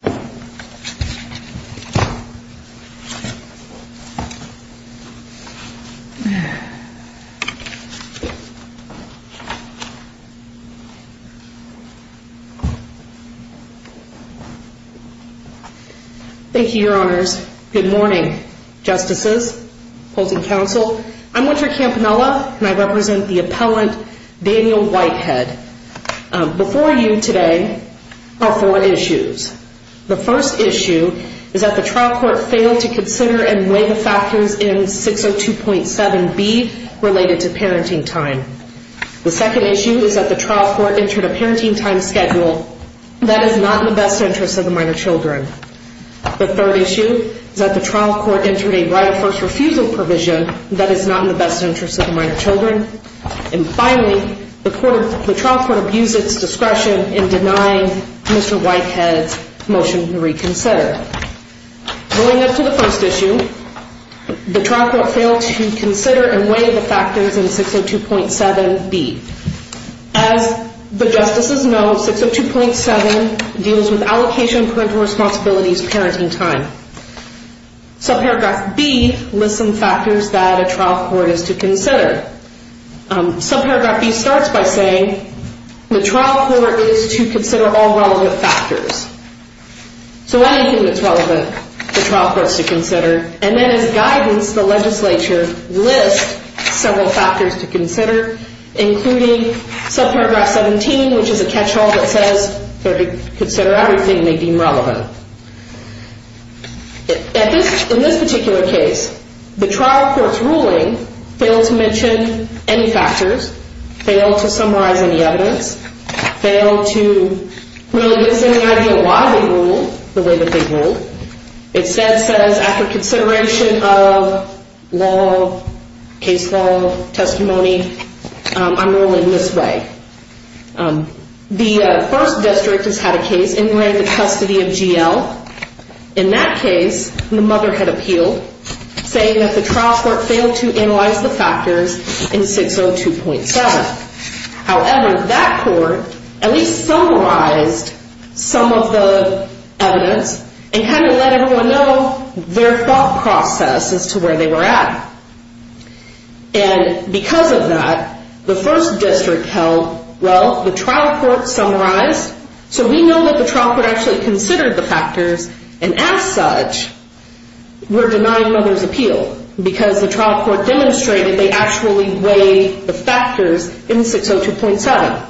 Thank you, your honors. Good morning, justices, opposing counsel. I'm Winter Campanella and I represent the appellant, Daniel Whitehead. Before you today are four issues. The first issue is that the trial court failed to consider and weigh the factors in 602.7B related to parenting time. The second issue is that the trial court entered a parenting time schedule that is not in the best interest of the minor children. The third issue is that the trial court entered a right of first refusal provision that is not in the best interest of the minor children. And finally, the trial court abused its discretion in denying Mr. Whitehead's motion to reconsider. Going up to the first issue, the trial court failed to consider and weigh the factors in 602.7B. As the justices know, 602.7 deals with allocation parental responsibilities, parenting time. Subparagraph B lists some factors that a trial court is to consider. Subparagraph B starts by saying the trial court is to consider all relevant factors. So anything that's relevant, the trial court's to consider. And then as guidance, the legislature lists several factors to consider, including subparagraph 17, which is a catch all that says they're to consider everything they deem relevant. In this particular case, the trial court's ruling failed to mention any factors, failed to summarize any evidence, failed to really give us any idea why they ruled the way that they ruled. It says, after consideration of law, case law, testimony, I'm ruling this way. The first district has had a case in the custody of GL. In that case, the mother had appealed, saying that the trial court failed to analyze the factors in 602.7. However, that court at least summarized some of the evidence and kind of let everyone know their thought process as to where they were at. And because of that, the first district held, well, the trial court summarized, so we know that the trial court actually considered the factors, and as such, were denying mother's appeal because the trial court demonstrated they actually weighed the factors in 602.7.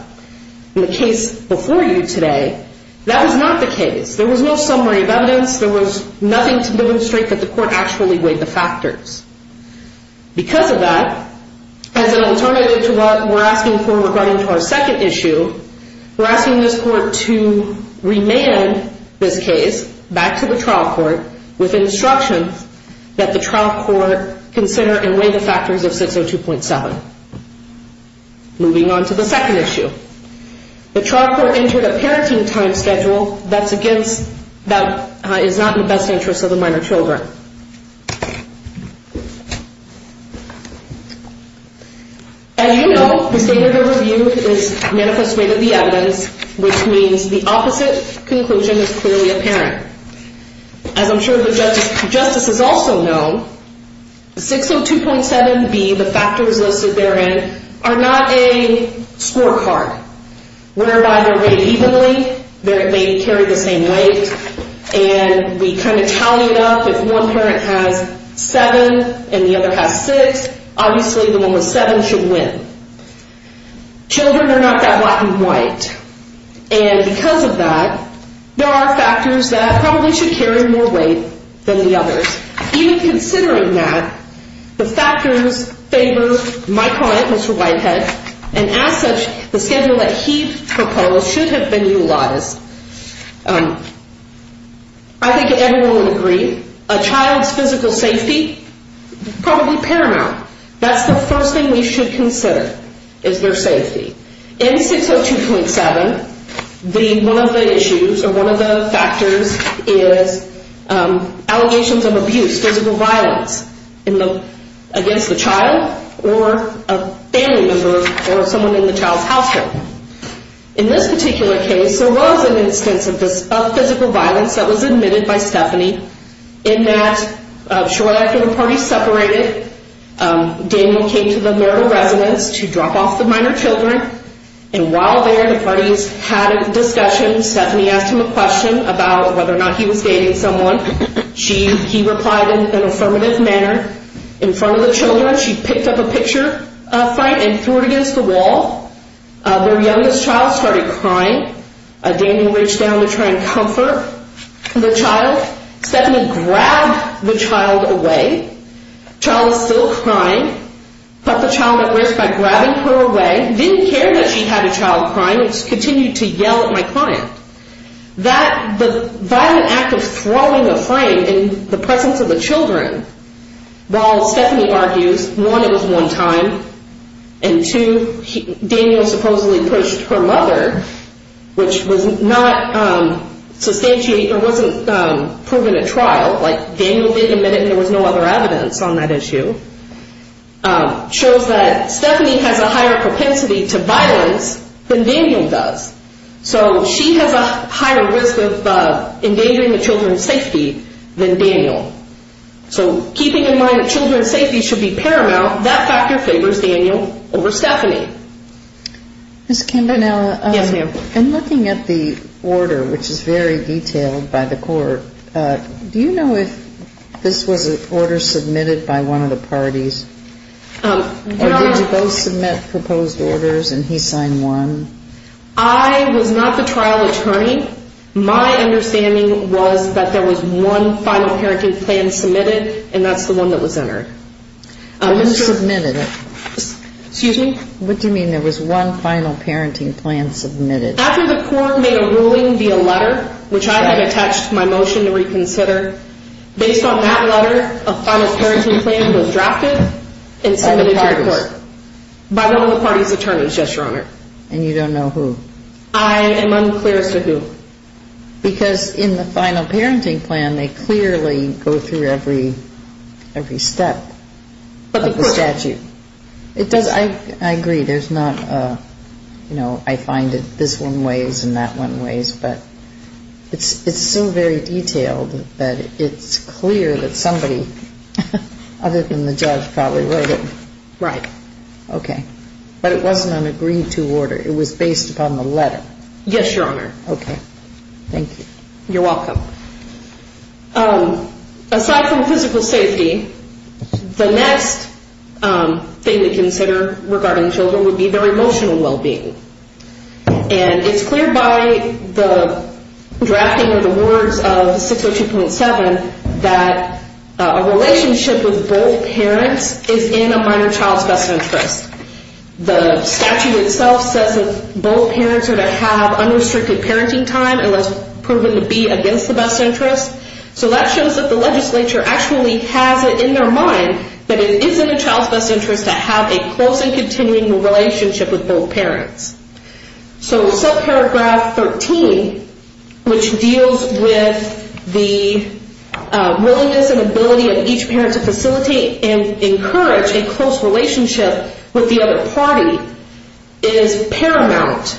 In the case before you today, that was not the case. There was no summary of evidence. There was nothing to demonstrate that the court actually weighed the factors. Because of that, as an alternative to what we're asking for regarding to our second issue, we're asking this court to remand this case back to the trial court with instructions that the trial court consider and weigh the factors of 602.7. Moving on to the second issue. The trial court entered a parenting time schedule that's against, that is not in the best interest of the minor children. As you know, the state of the review is manifest weight of the evidence, which means the opposite conclusion is clearly apparent. As I'm sure the justices also know, 602.7b, the factors listed therein, are not a scorecard. We're by their weight evenly, they carry the same weight, and we kind of tally it up. If one parent has 7 and the other has 6, obviously the one with 7 should win. Children are not that black and white. And because of that, there are factors that probably should carry more weight than the others. Even considering that, the factors favor my client, Mr. Whitehead, and as such, the schedule that he proposed should have been utilized. I think everyone would agree, a child's physical safety, probably paramount. That's the first thing we should consider, is their safety. In 602.7, one of the issues or one of the factors is allegations of abuse, physical violence, against the child or a family member or someone in the child's household. In this particular case, there was an instance of physical violence that was admitted by Stephanie, in that shortly after the parties separated, Daniel came to the marital residence to drop off the minor children, and while there the parties had a discussion, Stephanie asked him a question about whether or not he was dating someone. He replied in an affirmative manner. In front of the children, she picked up a picture up front and threw it against the wall. Their youngest child started crying. Daniel reached down to try and comfort the child. Stephanie grabbed the child away. Child was still crying. Cut the child at risk by grabbing her away. Didn't care that she had a child crying, just continued to yell at my client. The violent act of throwing a frame in the presence of the children, while Stephanie argues, one, it was one time, and two, Daniel supposedly pushed her mother, which was not substantiated or wasn't proven at trial, like Daniel did admit it and there was no other evidence on that issue, shows that there's a higher risk of endangering the children's safety than Daniel. So keeping in mind that children's safety should be paramount, that factor favors Daniel over Stephanie. Ms. Campanella, in looking at the order, which is very detailed by the court, do you know if this was an order submitted by one of the parties, or did you both submit proposed orders and he signed one? I was not the trial attorney. My understanding was that there was one final parenting plan submitted and that's the one that was entered. Who submitted it? Excuse me? What do you mean there was one final parenting plan submitted? After the court made a ruling via letter, which I had attached my motion to reconsider, based on that letter, a final I am unclear as to who. Because in the final parenting plan, they clearly go through every step of the statute. I agree, there's not a, you know, I find it this one ways and that one ways, but it's so very detailed that it's clear that Yes, Your Honor. Okay. Thank you. You're welcome. Aside from physical safety, the next thing to consider regarding children would be their emotional well-being. And it's clear by the drafting of the words of 602.7 that a relationship with both parents are to have unrestricted parenting time unless proven to be against the best interest. So that shows that the legislature actually has it in their mind that it isn't a child's best interest to have a close and continuing relationship with both parents. So subparagraph 13, which deals with the willingness and ability of each parent to facilitate and is paramount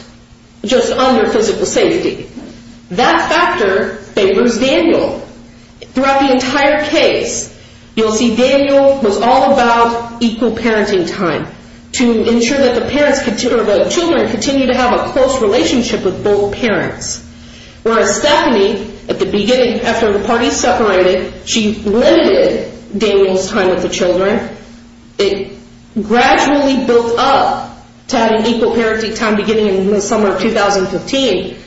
just under physical safety. That factor favors Daniel. Throughout the entire case, you'll see Daniel was all about equal parenting time to ensure that the children continue to have a close relationship with both parents. Whereas Stephanie, at the beginning, after the parties separated, she limited Daniel's time with the children. It gradually built up to having equal parenting time beginning in the summer of 2015.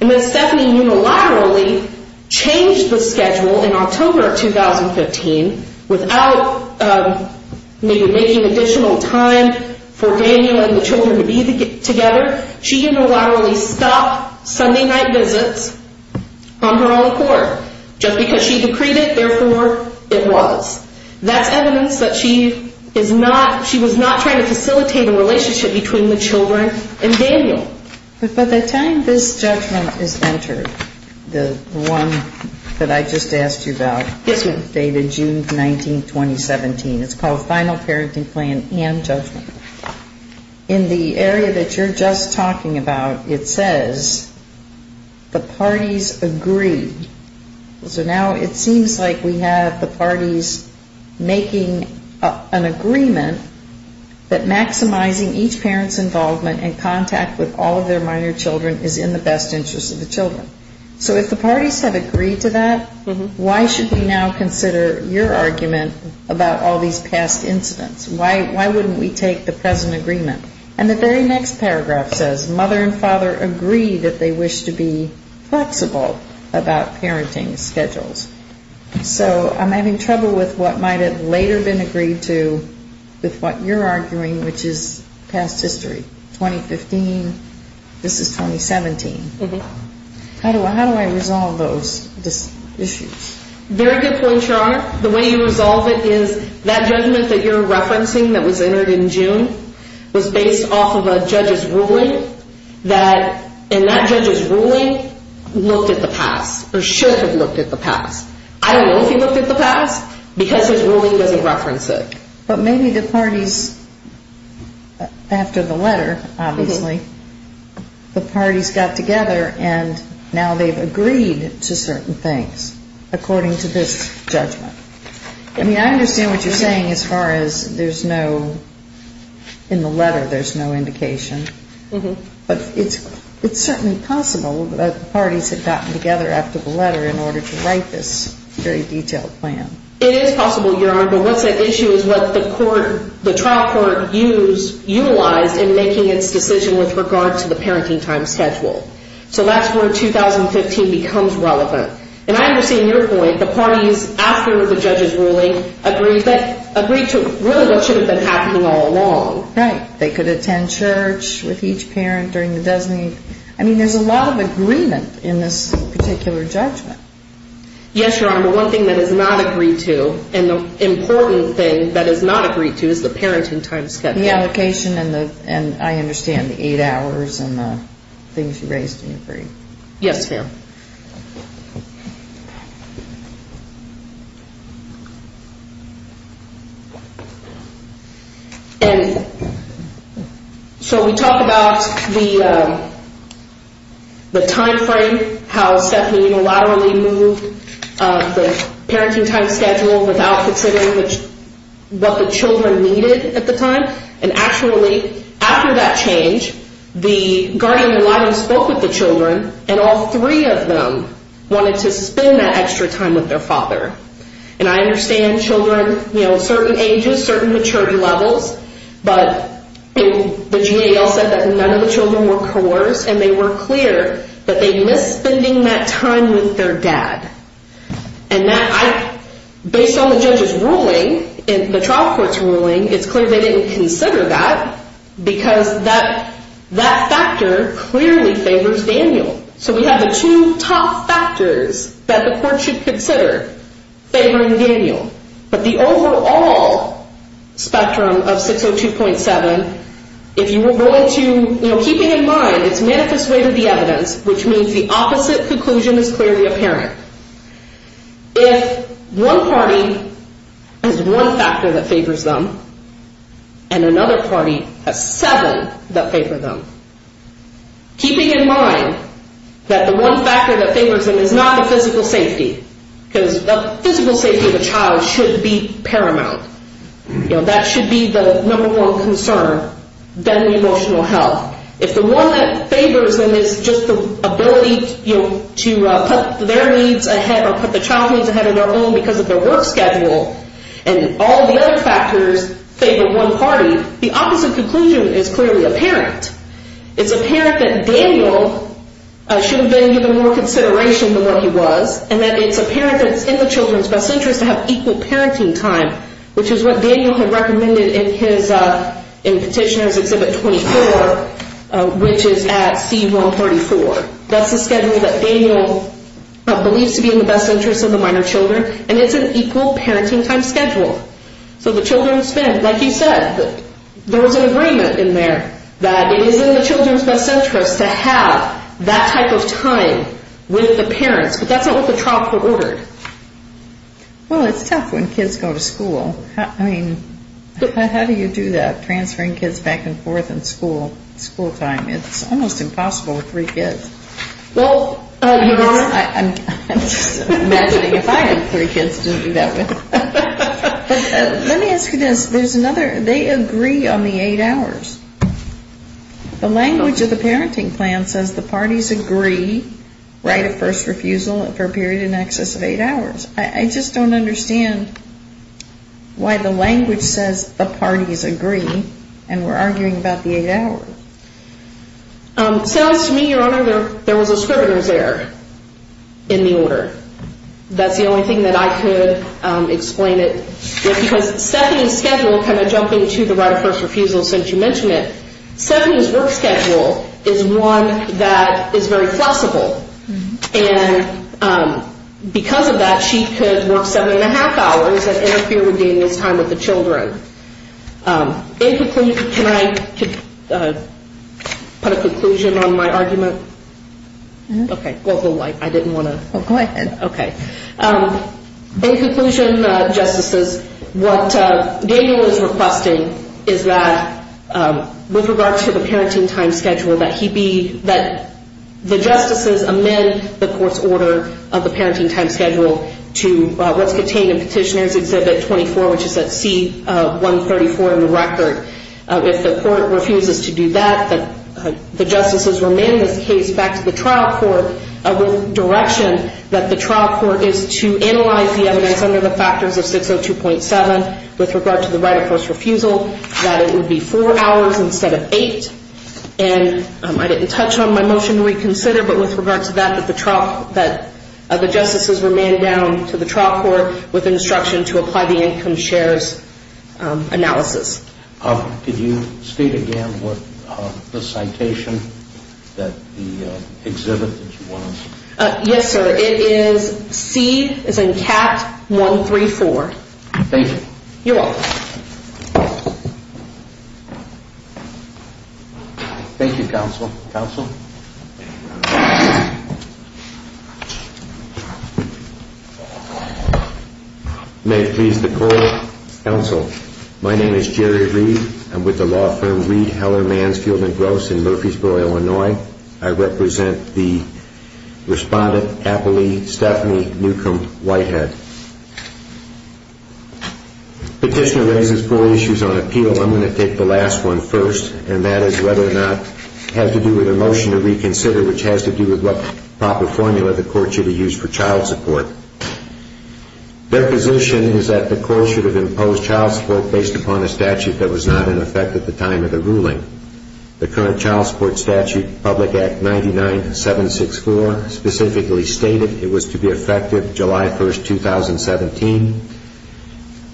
And then Stephanie unilaterally changed the schedule in October 2015 without maybe making additional time for Daniel and the children to be together. She unilaterally stopped Sunday night visits on her own accord. Just because she decreed it, therefore it was. That's evidence that she is not, she was not trying to facilitate a relationship between the children and Daniel. But by the time this judgment is entered, the one that I just asked you about, dated June 19, 2017, it's called Final Parenting Plan and Judgment. In the area that you're just talking about, it says the parties agreed. So now it seems like we have the parties making an agreement that maximizing each parent's involvement and contact with all of their minor children is in the best interest of the children. So if the parents agree, why wouldn't we take the present agreement? And the very next paragraph says mother and father agree that they wish to be flexible about parenting schedules. So I'm having trouble with what might have later been agreed to with what you're arguing, which is past history, 2015. This is 2017. How do I resolve those issues? Very good point, Your Honor. The way you resolve it is that judgment that you're referencing that was entered in June was based off of a judge's ruling, and that judge's ruling looked at the past, or should have looked at the past. I don't know if he looked at the past, because his ruling doesn't reference it. But maybe the parties, after the letter, obviously, the parties got together and now they've agreed to certain things according to this judgment. I mean, I understand what you're saying as far as there's no, in the letter there's no indication. But it's certainly possible that the parties have gotten together after the letter in order to write this very detailed plan. It is possible, Your Honor. But what's at issue is what the court, the trial court used, utilized in making its decision with regard to the parenting time schedule. So that's where 2015 becomes relevant. And I understand your point. The parties, after the judge's ruling, agreed to really what should have been happening all along. Right. They could attend church with each parent during the designee. I mean, there's a lot of agreement in this particular judgment. Yes, Your Honor. One thing that is not agreed to, and the important thing that is not agreed to, is the parenting time schedule. The allocation and I understand the eight hours and the things you raised in your brief. Yes, ma'am. And so we talk about the time frame, how Stephanie unilaterally moved the parenting time schedule without considering what the children needed at the time. And actually, after that change, the guardian unilaterally spoke with the children and all three of them agreed to the parenting time schedule. But none of them wanted to spend that extra time with their father. And I understand children, you know, certain ages, certain maturity levels. But the GAO said that none of the children were coerced and they were clear that they missed spending that time with their dad. And based on the judge's ruling, the trial court's ruling, it's clear they didn't consider that because that factor clearly favors Daniel. So we have the two top factors that the court should consider favoring Daniel. But the overall spectrum of 602.7, if you were willing to, you know, keeping in mind, it's manifest way to the evidence, which means the opposite conclusion is clearly apparent. If one party has one factor that favors them and another party has seven that favor them, keeping in mind, that the one factor that favors them is not the physical safety, because the physical safety of the child should be paramount. You know, that should be the number one concern, then the emotional health. If the one that favors them is just the ability to put their needs ahead or put the child's needs ahead of their own because of their work schedule and all the other factors favor one party, the opposite conclusion is clearly apparent. It's apparent that Daniel should have been given more consideration than what he was and that it's apparent that it's in the children's best interest to have equal parenting time, which is what Daniel had recommended in petitioner's exhibit 24, which is at C-134. That's the schedule that Daniel believes to be in the best interest of the minor children, and it's an equal parenting time schedule. So the children spend, like you said, there was an agreement in there that it is in the children's best interest to have that type of time with the parents, but that's not what the trial court ordered. Well, it's tough when kids go to school. I mean, how do you do that, transferring kids back and forth in school, school time? It's almost impossible with three kids. I'm just imagining if I had three kids, it wouldn't be that way. Let me ask you this. They agree on the eight hours. The language of the parenting plan says the parties agree right of first refusal for a period in excess of eight hours. I just don't understand why the language says the parties agree and we're arguing about the eight hours. It sounds to me, Your Honor, there was a scrivener's error in the order. That's the only thing that I could explain it, because Stephanie's schedule kind of jumped into the right of first refusal since you mentioned it. Stephanie's work schedule is one that is very flexible, and because of that, she could work seven and a half hours and interfere with Daniel's time with the children. In conclusion, can I put a conclusion on my argument? Go ahead. In conclusion, Justices, what Daniel is requesting is that with regard to the parenting time schedule, that the Justices amend the court's order of the parenting time schedule to what's contained in Petitioner's Exhibit 24, which is at C-134 in the record. If the court refuses to do that, that the Justices remand this case back to the trial court with direction that the trial court is to analyze the evidence under the factors of 602.7 with regard to the right of first refusal, that it would be four hours instead of eight. And I didn't touch on my motion to reconsider, but with regard to that, that the trial court, that the Justices remand down to the trial court with instruction to apply the income shares analysis. Could you state again what the citation that the exhibit was? Yes, sir. It is C, it's in CAT-134. Thank you. You're welcome. Thank you, Counsel. May it please the Court, Counsel, my name is Jerry Reed. I'm with the law firm Reed, Heller, Mansfield & Gross in Murfreesboro, Illinois. I represent the respondent, Appalee Stephanie Newcomb Whitehead. Petitioner raises four issues on appeal. I'm going to take the last one first, and that is whether or not it has to do with a motion to reconsider, which has to do with what proper formula the court should have used for child support. Their position is that the court should have imposed child support based upon a statute that was not in effect at the time of the ruling. The current child support statute, Public Act 99-764, specifically stated it was to be effective July 1, 2017.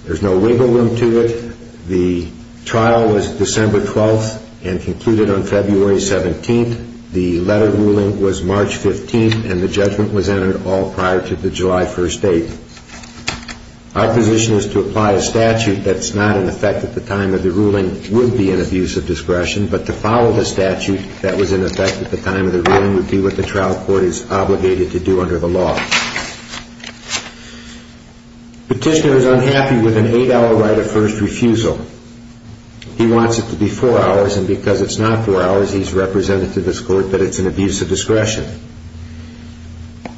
There's no wiggle room to it. The trial was December 12 and concluded on February 17. The letter ruling was March 15, and the judgment was entered all prior to the July 1 date. Our position is to apply a statute that's not in effect at the time of the ruling would be an abuse of discretion, but to follow the statute that was in effect at the time of the ruling would be what the trial court is obligated to do under the law. Petitioner is unhappy with an eight-hour right of first refusal. He wants it to be four hours, and because it's not four hours, he's represented to this court that it's an abuse of discretion.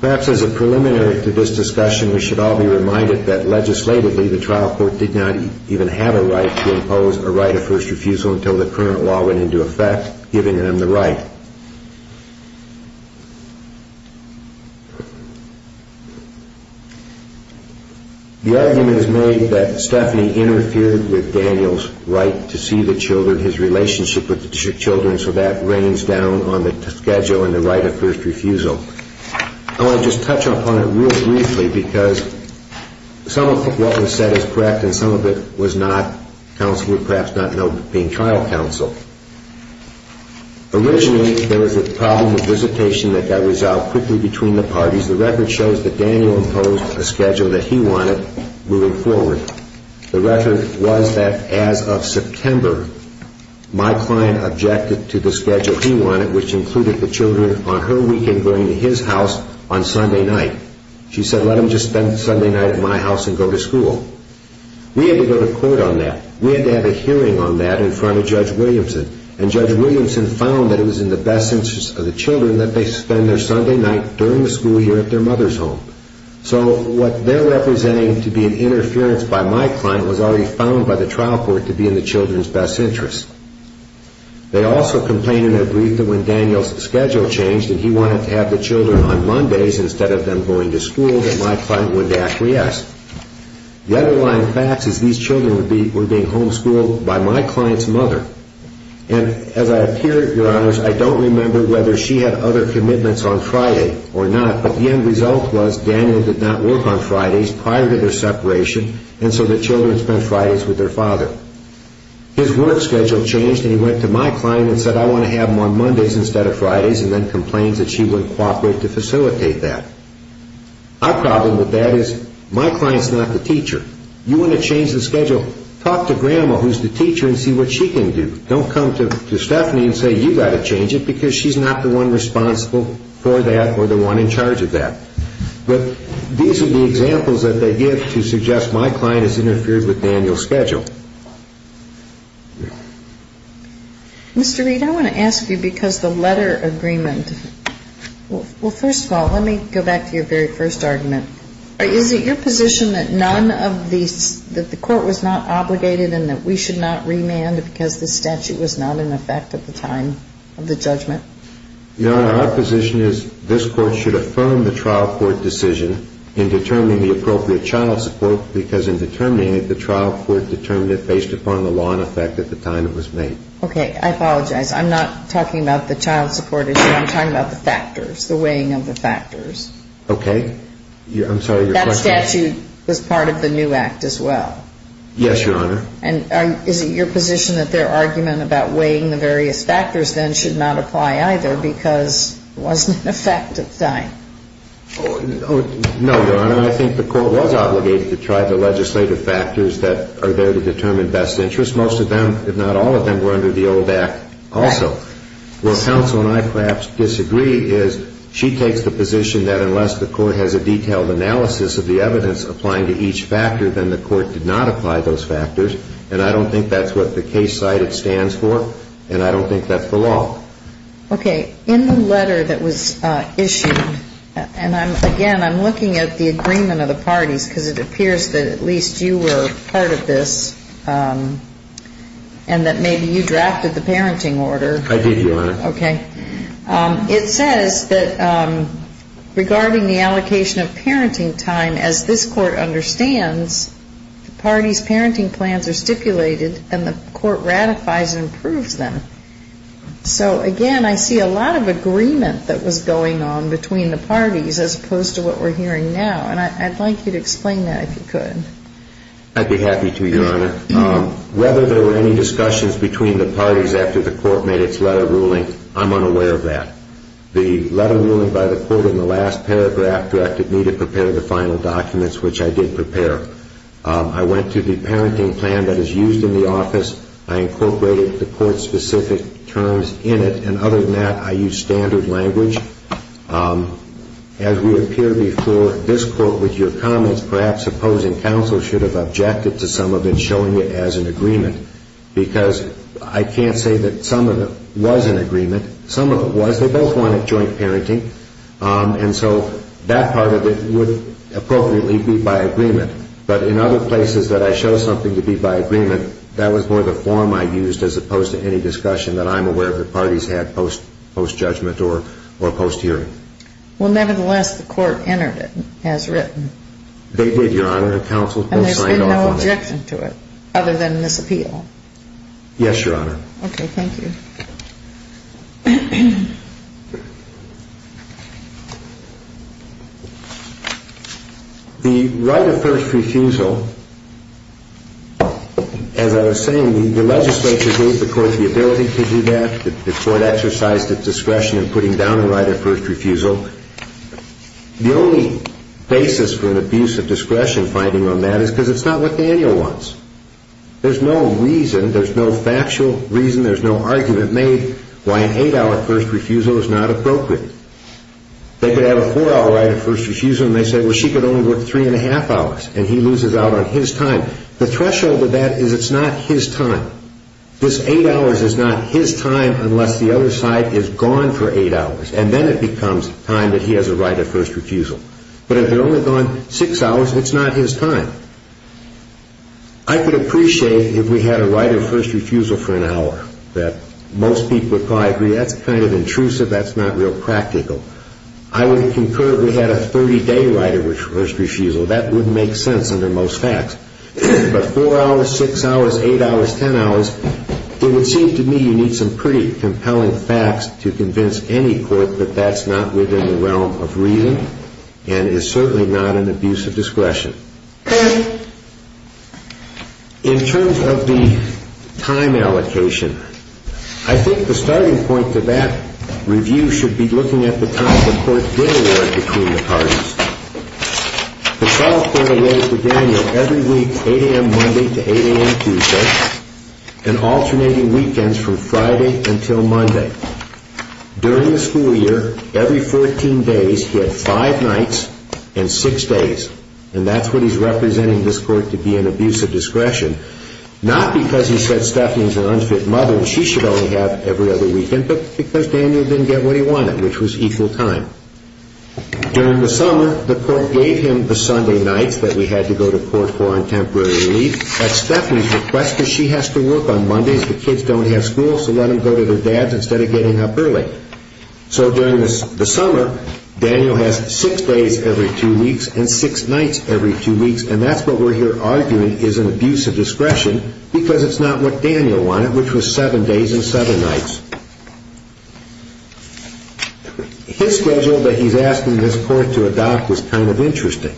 Perhaps as a preliminary to this discussion, we should all be reminded that legislatively, the trial court did not even have a right to impose a right of first refusal until the current law went into effect, giving them the right. The argument is made that Stephanie interfered with Daniel's right to see the children, his relationship with the children, so that rains down on the schedule and the right of first refusal. I want to just touch upon it real briefly because some of what was said is correct, and some of it was not counsel, perhaps not being trial counsel. Originally, there was a problem of visitation that got resolved quickly between the parties. The record shows that Daniel imposed a schedule that he wanted moving forward. The record was that as of September, my client objected to the schedule he wanted, which included the children on her weekend going to his house on Sunday night. She said, let them just spend Sunday night at my house and go to school. We had to go to court on that. We had to have a hearing on that in front of Judge Williamson, and Judge Williamson found that it was in the best interest of the children that they spend their Sunday night during the school year at their mother's home. So what they're representing to be an interference by my client was already found by the trial court to be in the children's best interest. They also complained in their brief that when Daniel's schedule changed, that he wanted to have the children on Mondays instead of them going to school, that my client would acquiesce. The underlying fact is these children were being homeschooled by my client's mother, and as I appear, Your Honors, I don't remember whether she had other commitments on Friday or not, but the end result was Daniel did not work on Fridays prior to their separation, and so the children spent Fridays with their father. His work schedule changed, and he went to my client and said, I want to have them on Mondays instead of Fridays, and then complained that she wouldn't cooperate to facilitate that. Our problem with that is my client's not the teacher. You want to change the schedule, talk to Grandma, who's the teacher, and see what she can do. Don't come to Stephanie and say, you've got to change it, because she's not the one responsible for that or the one in charge of that. But these are the examples that they give to suggest my client has interfered with Daniel's schedule. Mr. Reed, I want to ask you, because the letter agreement, well, first of all, let me go back to your very first argument. Is it your position that none of these, that the court was not obligated and that we should not remand because the statute was not in effect at the time of the judgment? Your Honor, our position is this court should affirm the trial court decision in determining the appropriate child support, because in determining it, the trial court determined it based upon the law in effect at the time it was made. Okay. I apologize. I'm not talking about the child support issue. I'm talking about the factors, the weighing of the factors. Okay. I'm sorry, your question is? That statute was part of the new act as well. Yes, Your Honor. And is it your position that their argument about weighing the various factors then should not apply either because it wasn't in effect at the time? No, your Honor. I think the court was obligated to try the legislative factors that are there to determine best interest. Most of them, if not all of them, were under the old act also. Right. Where counsel and I perhaps disagree is she takes the position that unless the court has a detailed analysis of the evidence applying to each factor, then the court did not apply those factors, and I don't think that's what the case cited stands for, and I don't think that's the law. Okay. In the letter that was issued, and again, I'm looking at the agreement of the parties because it appears that at least you were part of this and that maybe you drafted the parenting order. I did, your Honor. Okay. It says that regarding the allocation of parenting time, as this court understands, the parties' parenting plans are stipulated and the court ratifies and approves them. So, again, I see a lot of agreement that was going on between the parties as opposed to what we're hearing now, and I'd like you to explain that if you could. I'd be happy to, your Honor. Whether there were any discussions between the parties after the court made its letter ruling, I'm unaware of that. The letter ruling by the court in the last paragraph directed me to prepare the final documents, which I did prepare. I went to the parenting plan that is used in the office. I incorporated the court-specific terms in it, and other than that, I used standard language. As we appear before this court with your comments, perhaps opposing counsel should have objected to some of it showing it as an agreement because I can't say that some of it was an agreement. Some of it was. They both wanted joint parenting, and so that part of it would appropriately be by agreement. But in other places that I show something to be by agreement, that was more the form I used as opposed to any discussion that I'm aware of the parties had post-judgment or post-hearing. Well, nevertheless, the court entered it as written. They did, your Honor, and counsel signed off on it. And there's been no objection to it other than this appeal? Yes, your Honor. Okay, thank you. The right of first refusal, as I was saying, the legislature gave the court the ability to do that. The court exercised its discretion in putting down the right of first refusal. The only basis for an abuse of discretion finding on that is because it's not what Daniel wants. There's no reason, there's no factual reason, there's no argument made why an eight-hour first refusal is not appropriate. They could have a four-hour right of first refusal, and they say, well, she could only work three-and-a-half hours, and he loses out on his time. The threshold of that is it's not his time. This eight hours is not his time unless the other side is gone for eight hours, and then it becomes time that he has a right of first refusal. But if they're only gone six hours, it's not his time. I could appreciate if we had a right of first refusal for an hour. Most people would probably agree that's kind of intrusive, that's not real practical. I would concur if we had a 30-day right of first refusal. That would make sense under most facts. But four hours, six hours, eight hours, ten hours, it would seem to me you need some pretty compelling facts to convince any court that that's not within the realm of reason and is certainly not an abuse of discretion. In terms of the time allocation, I think the starting point to that review should be looking at the time the court did award between the parties. The trial court awarded to Daniel every week, 8 a.m. Monday to 8 a.m. Tuesday, and alternating weekends from Friday until Monday. During the school year, every 14 days, he had five nights and six days, and that's what he's representing this court to be an abuse of discretion, not because he said Stephanie's an unfit mother and she should only have every other weekend, but because Daniel didn't get what he wanted, which was equal time. During the summer, the court gave him the Sunday nights that we had to go to court for on temporary leave. At Stephanie's request, she has to work on Mondays. The kids don't have school, so let them go to their dads instead of getting up early. So during the summer, Daniel has six days every two weeks and six nights every two weeks, and that's what we're here arguing is an abuse of discretion because it's not what Daniel wanted, which was seven days and seven nights. His schedule that he's asking this court to adopt is kind of interesting.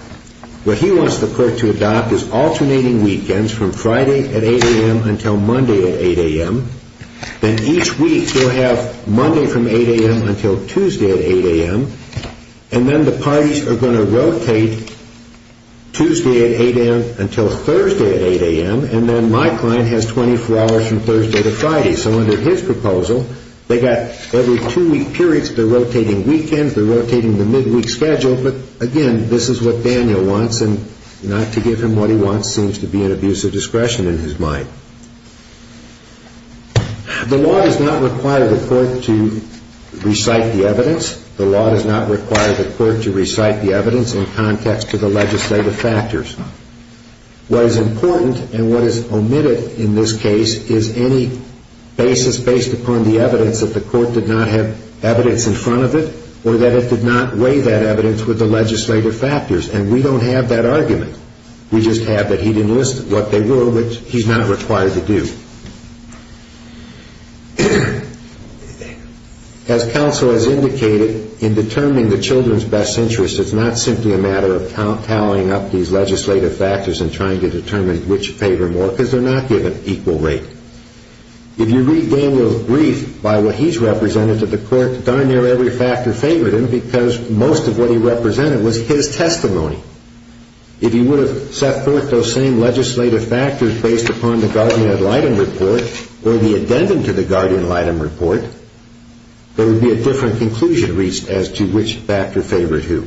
What he wants the court to adopt is alternating weekends from Friday at 8 a.m. until Monday at 8 a.m. Then each week, you'll have Monday from 8 a.m. until Tuesday at 8 a.m., and then the parties are going to rotate Tuesday at 8 a.m. until Thursday at 8 a.m., and then my client has 24 hours from Thursday to Friday. So under his proposal, they've got every two-week periods. They're rotating weekends. They're rotating the midweek schedule, but again, this is what Daniel wants, and not to give him what he wants seems to be an abuse of discretion in his mind. The law does not require the court to recite the evidence. The law does not require the court to recite the evidence in context to the legislative factors. What is important and what is omitted in this case is any basis based upon the evidence that the court did not have evidence in front of it or that it did not weigh that evidence with the legislative factors, and we don't have that argument. We just have that he didn't list what they were, which he's not required to do. As counsel has indicated, in determining the children's best interests, it's not simply a matter of tallying up these legislative factors and trying to determine which favored more because they're not given equal rate. If you read Daniel's brief by what he's represented to the court, darn near every factor favored him because most of what he represented was his testimony. If he would have set forth those same legislative factors based upon the Guardian-Lytton report or the addendum to the Guardian-Lytton report, there would be a different conclusion reached as to which factor favored who.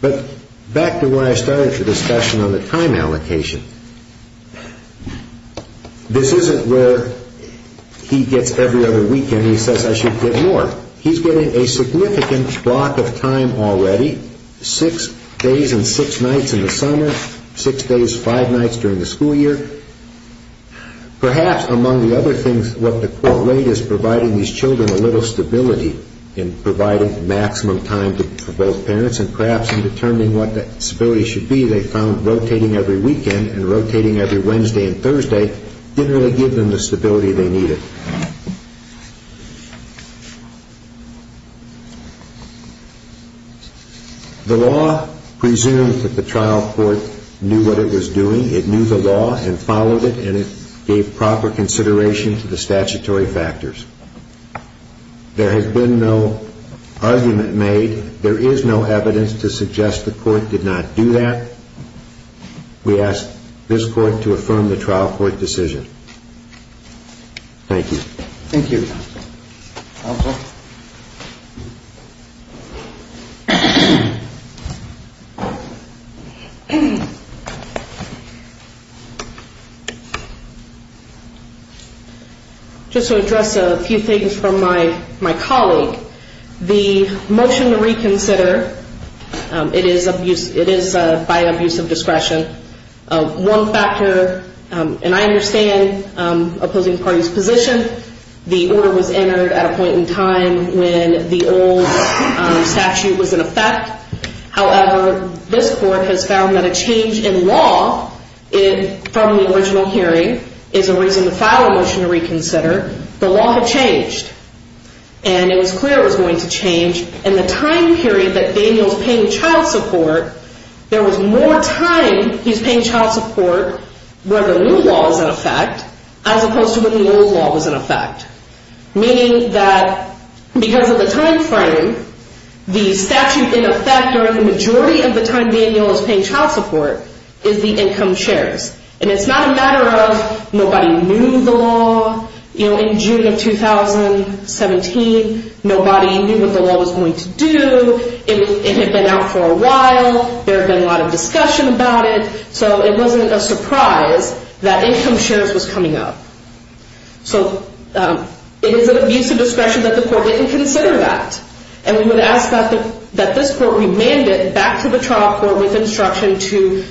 But back to where I started the discussion on the time allocation. This isn't where he gets every other weekend and he says I should get more. He's getting a significant block of time already, six days and six nights in the summer, six days, five nights during the school year. Perhaps among the other things what the court rate is providing these children a little stability in providing maximum time for both parents and perhaps in determining what that stability should be, they found rotating every weekend and rotating every Wednesday and Thursday didn't really give them the stability they needed. The law presumes that the trial court knew what it was doing. It knew the law and followed it and it gave proper consideration to the statutory factors. There has been no argument made. There is no evidence to suggest the court did not do that. We ask this court to affirm the trial court decision. Thank you. Thank you. Just to address a few things from my colleague. The motion to reconsider, it is by abuse of discretion. One factor, and I understand opposing parties' position, the order was entered at a point in time when the old statute was in effect. However, this court has found that a change in law from the original hearing is a reason to file a motion to reconsider. The law had changed and it was clear it was going to change. In the time period that Daniel is paying child support, there was more time he was paying child support where the new law was in effect as opposed to when the old law was in effect. Meaning that because of the time frame, the statute in effect or the majority of the time Daniel is paying child support is the income shares. It is not a matter of nobody knew the law. In June of 2017, nobody knew what the law was going to do. It had been out for a while. There had been a lot of discussion about it. It was not a surprise that income shares was coming up. So it is an abuse of discretion that the court didn't consider that. And we would ask that this court remand it back to the trial court with instruction to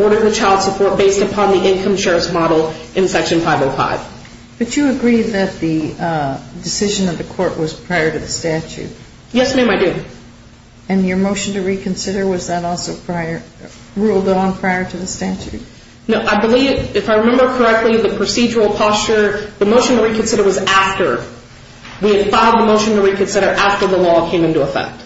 order the child support based upon the income shares model in Section 505. But you agreed that the decision of the court was prior to the statute. Yes, ma'am, I did. And your motion to reconsider, was that also ruled on prior to the statute? No, I believe, if I remember correctly, the procedural posture, the motion to reconsider was after. We had filed the motion to reconsider after the law came into effect.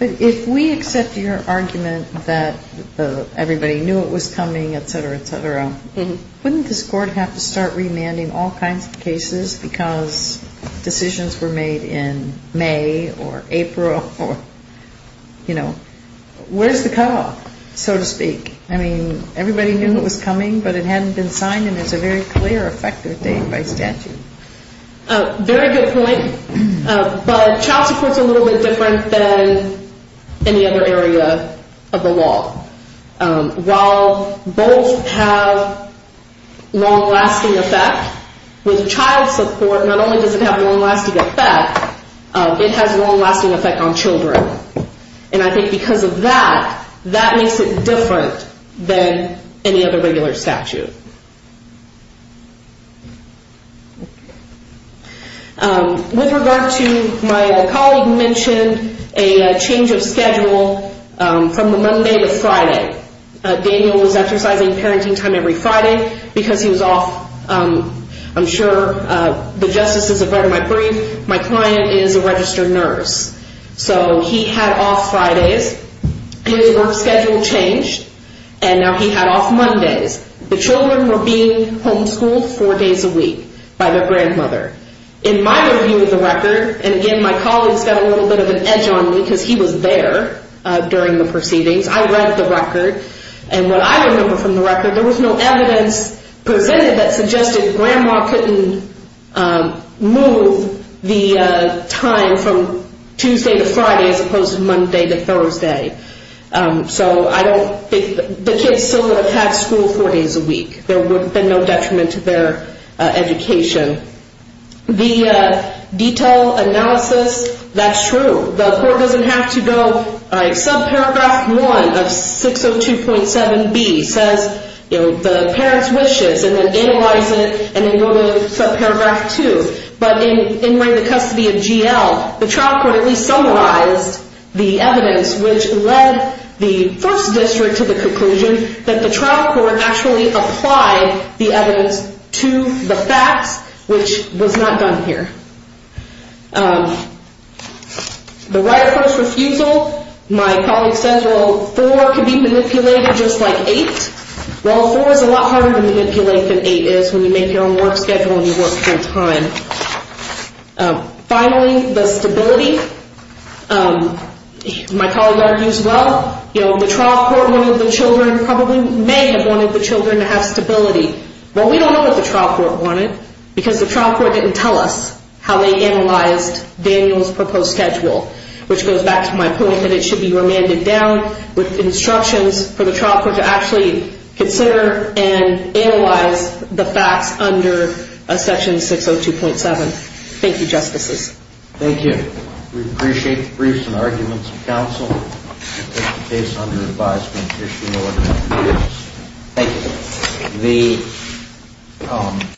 But if we accept your argument that everybody knew it was coming, etc., etc., wouldn't this court have to start remanding all kinds of cases because decisions were made in May or April or, you know, where's the cutoff, so to speak? I mean, everybody knew it was coming, but it hadn't been signed in as a very clear effective date by statute. Very good point. But child support is a little bit different than any other area of the law. While both have long-lasting effect, with child support not only does it have a long-lasting effect, it has a long-lasting effect on children. And I think because of that, that makes it different than any other regular statute. With regard to my colleague mentioned a change of schedule from the Monday to Friday. Daniel was exercising parenting time every Friday because he was off, I'm sure the justices have read my brief, my client is a registered nurse. So he had off Fridays. His work schedule changed, and now he had off Mondays. The children were being homeschooled four days a week by their grandmother. In my review of the record, and again, my colleague's got a little bit of an edge on me because he was there during the proceedings, I read the record, and what I remember from the record, there was no evidence presented that suggested grandma couldn't move the time from Tuesday to Friday as opposed to Monday to Thursday. So I don't think the kids still would have had school four days a week. There would have been no detriment to their education. The detail analysis, that's true. The court doesn't have to go, all right, subparagraph 1 of 602.7b says, you know, the parent's wishes, and then analyze it, and then go to subparagraph 2. But in the custody of GL, the trial court at least summarized the evidence which led the first district to the conclusion that the trial court actually applied the evidence to the facts, which was not done here. The right of first refusal, my colleague says, well, four can be manipulated just like eight. Well, four is a lot harder to manipulate than eight is when you make your own work schedule and you work full time. Finally, the stability, my colleague argues, well, you know, the trial court wanted the children, probably may have wanted the children to have stability. Well, we don't know what the trial court wanted because the trial court didn't tell us how they analyzed Daniel's proposed schedule, which goes back to my point that it should be remanded down with instructions for the trial court to actually consider and analyze the facts under section 602.7. Thank you, Justices. Thank you. We appreciate the briefs and arguments of counsel. The case under advisement, Commissioner Miller. Thank you.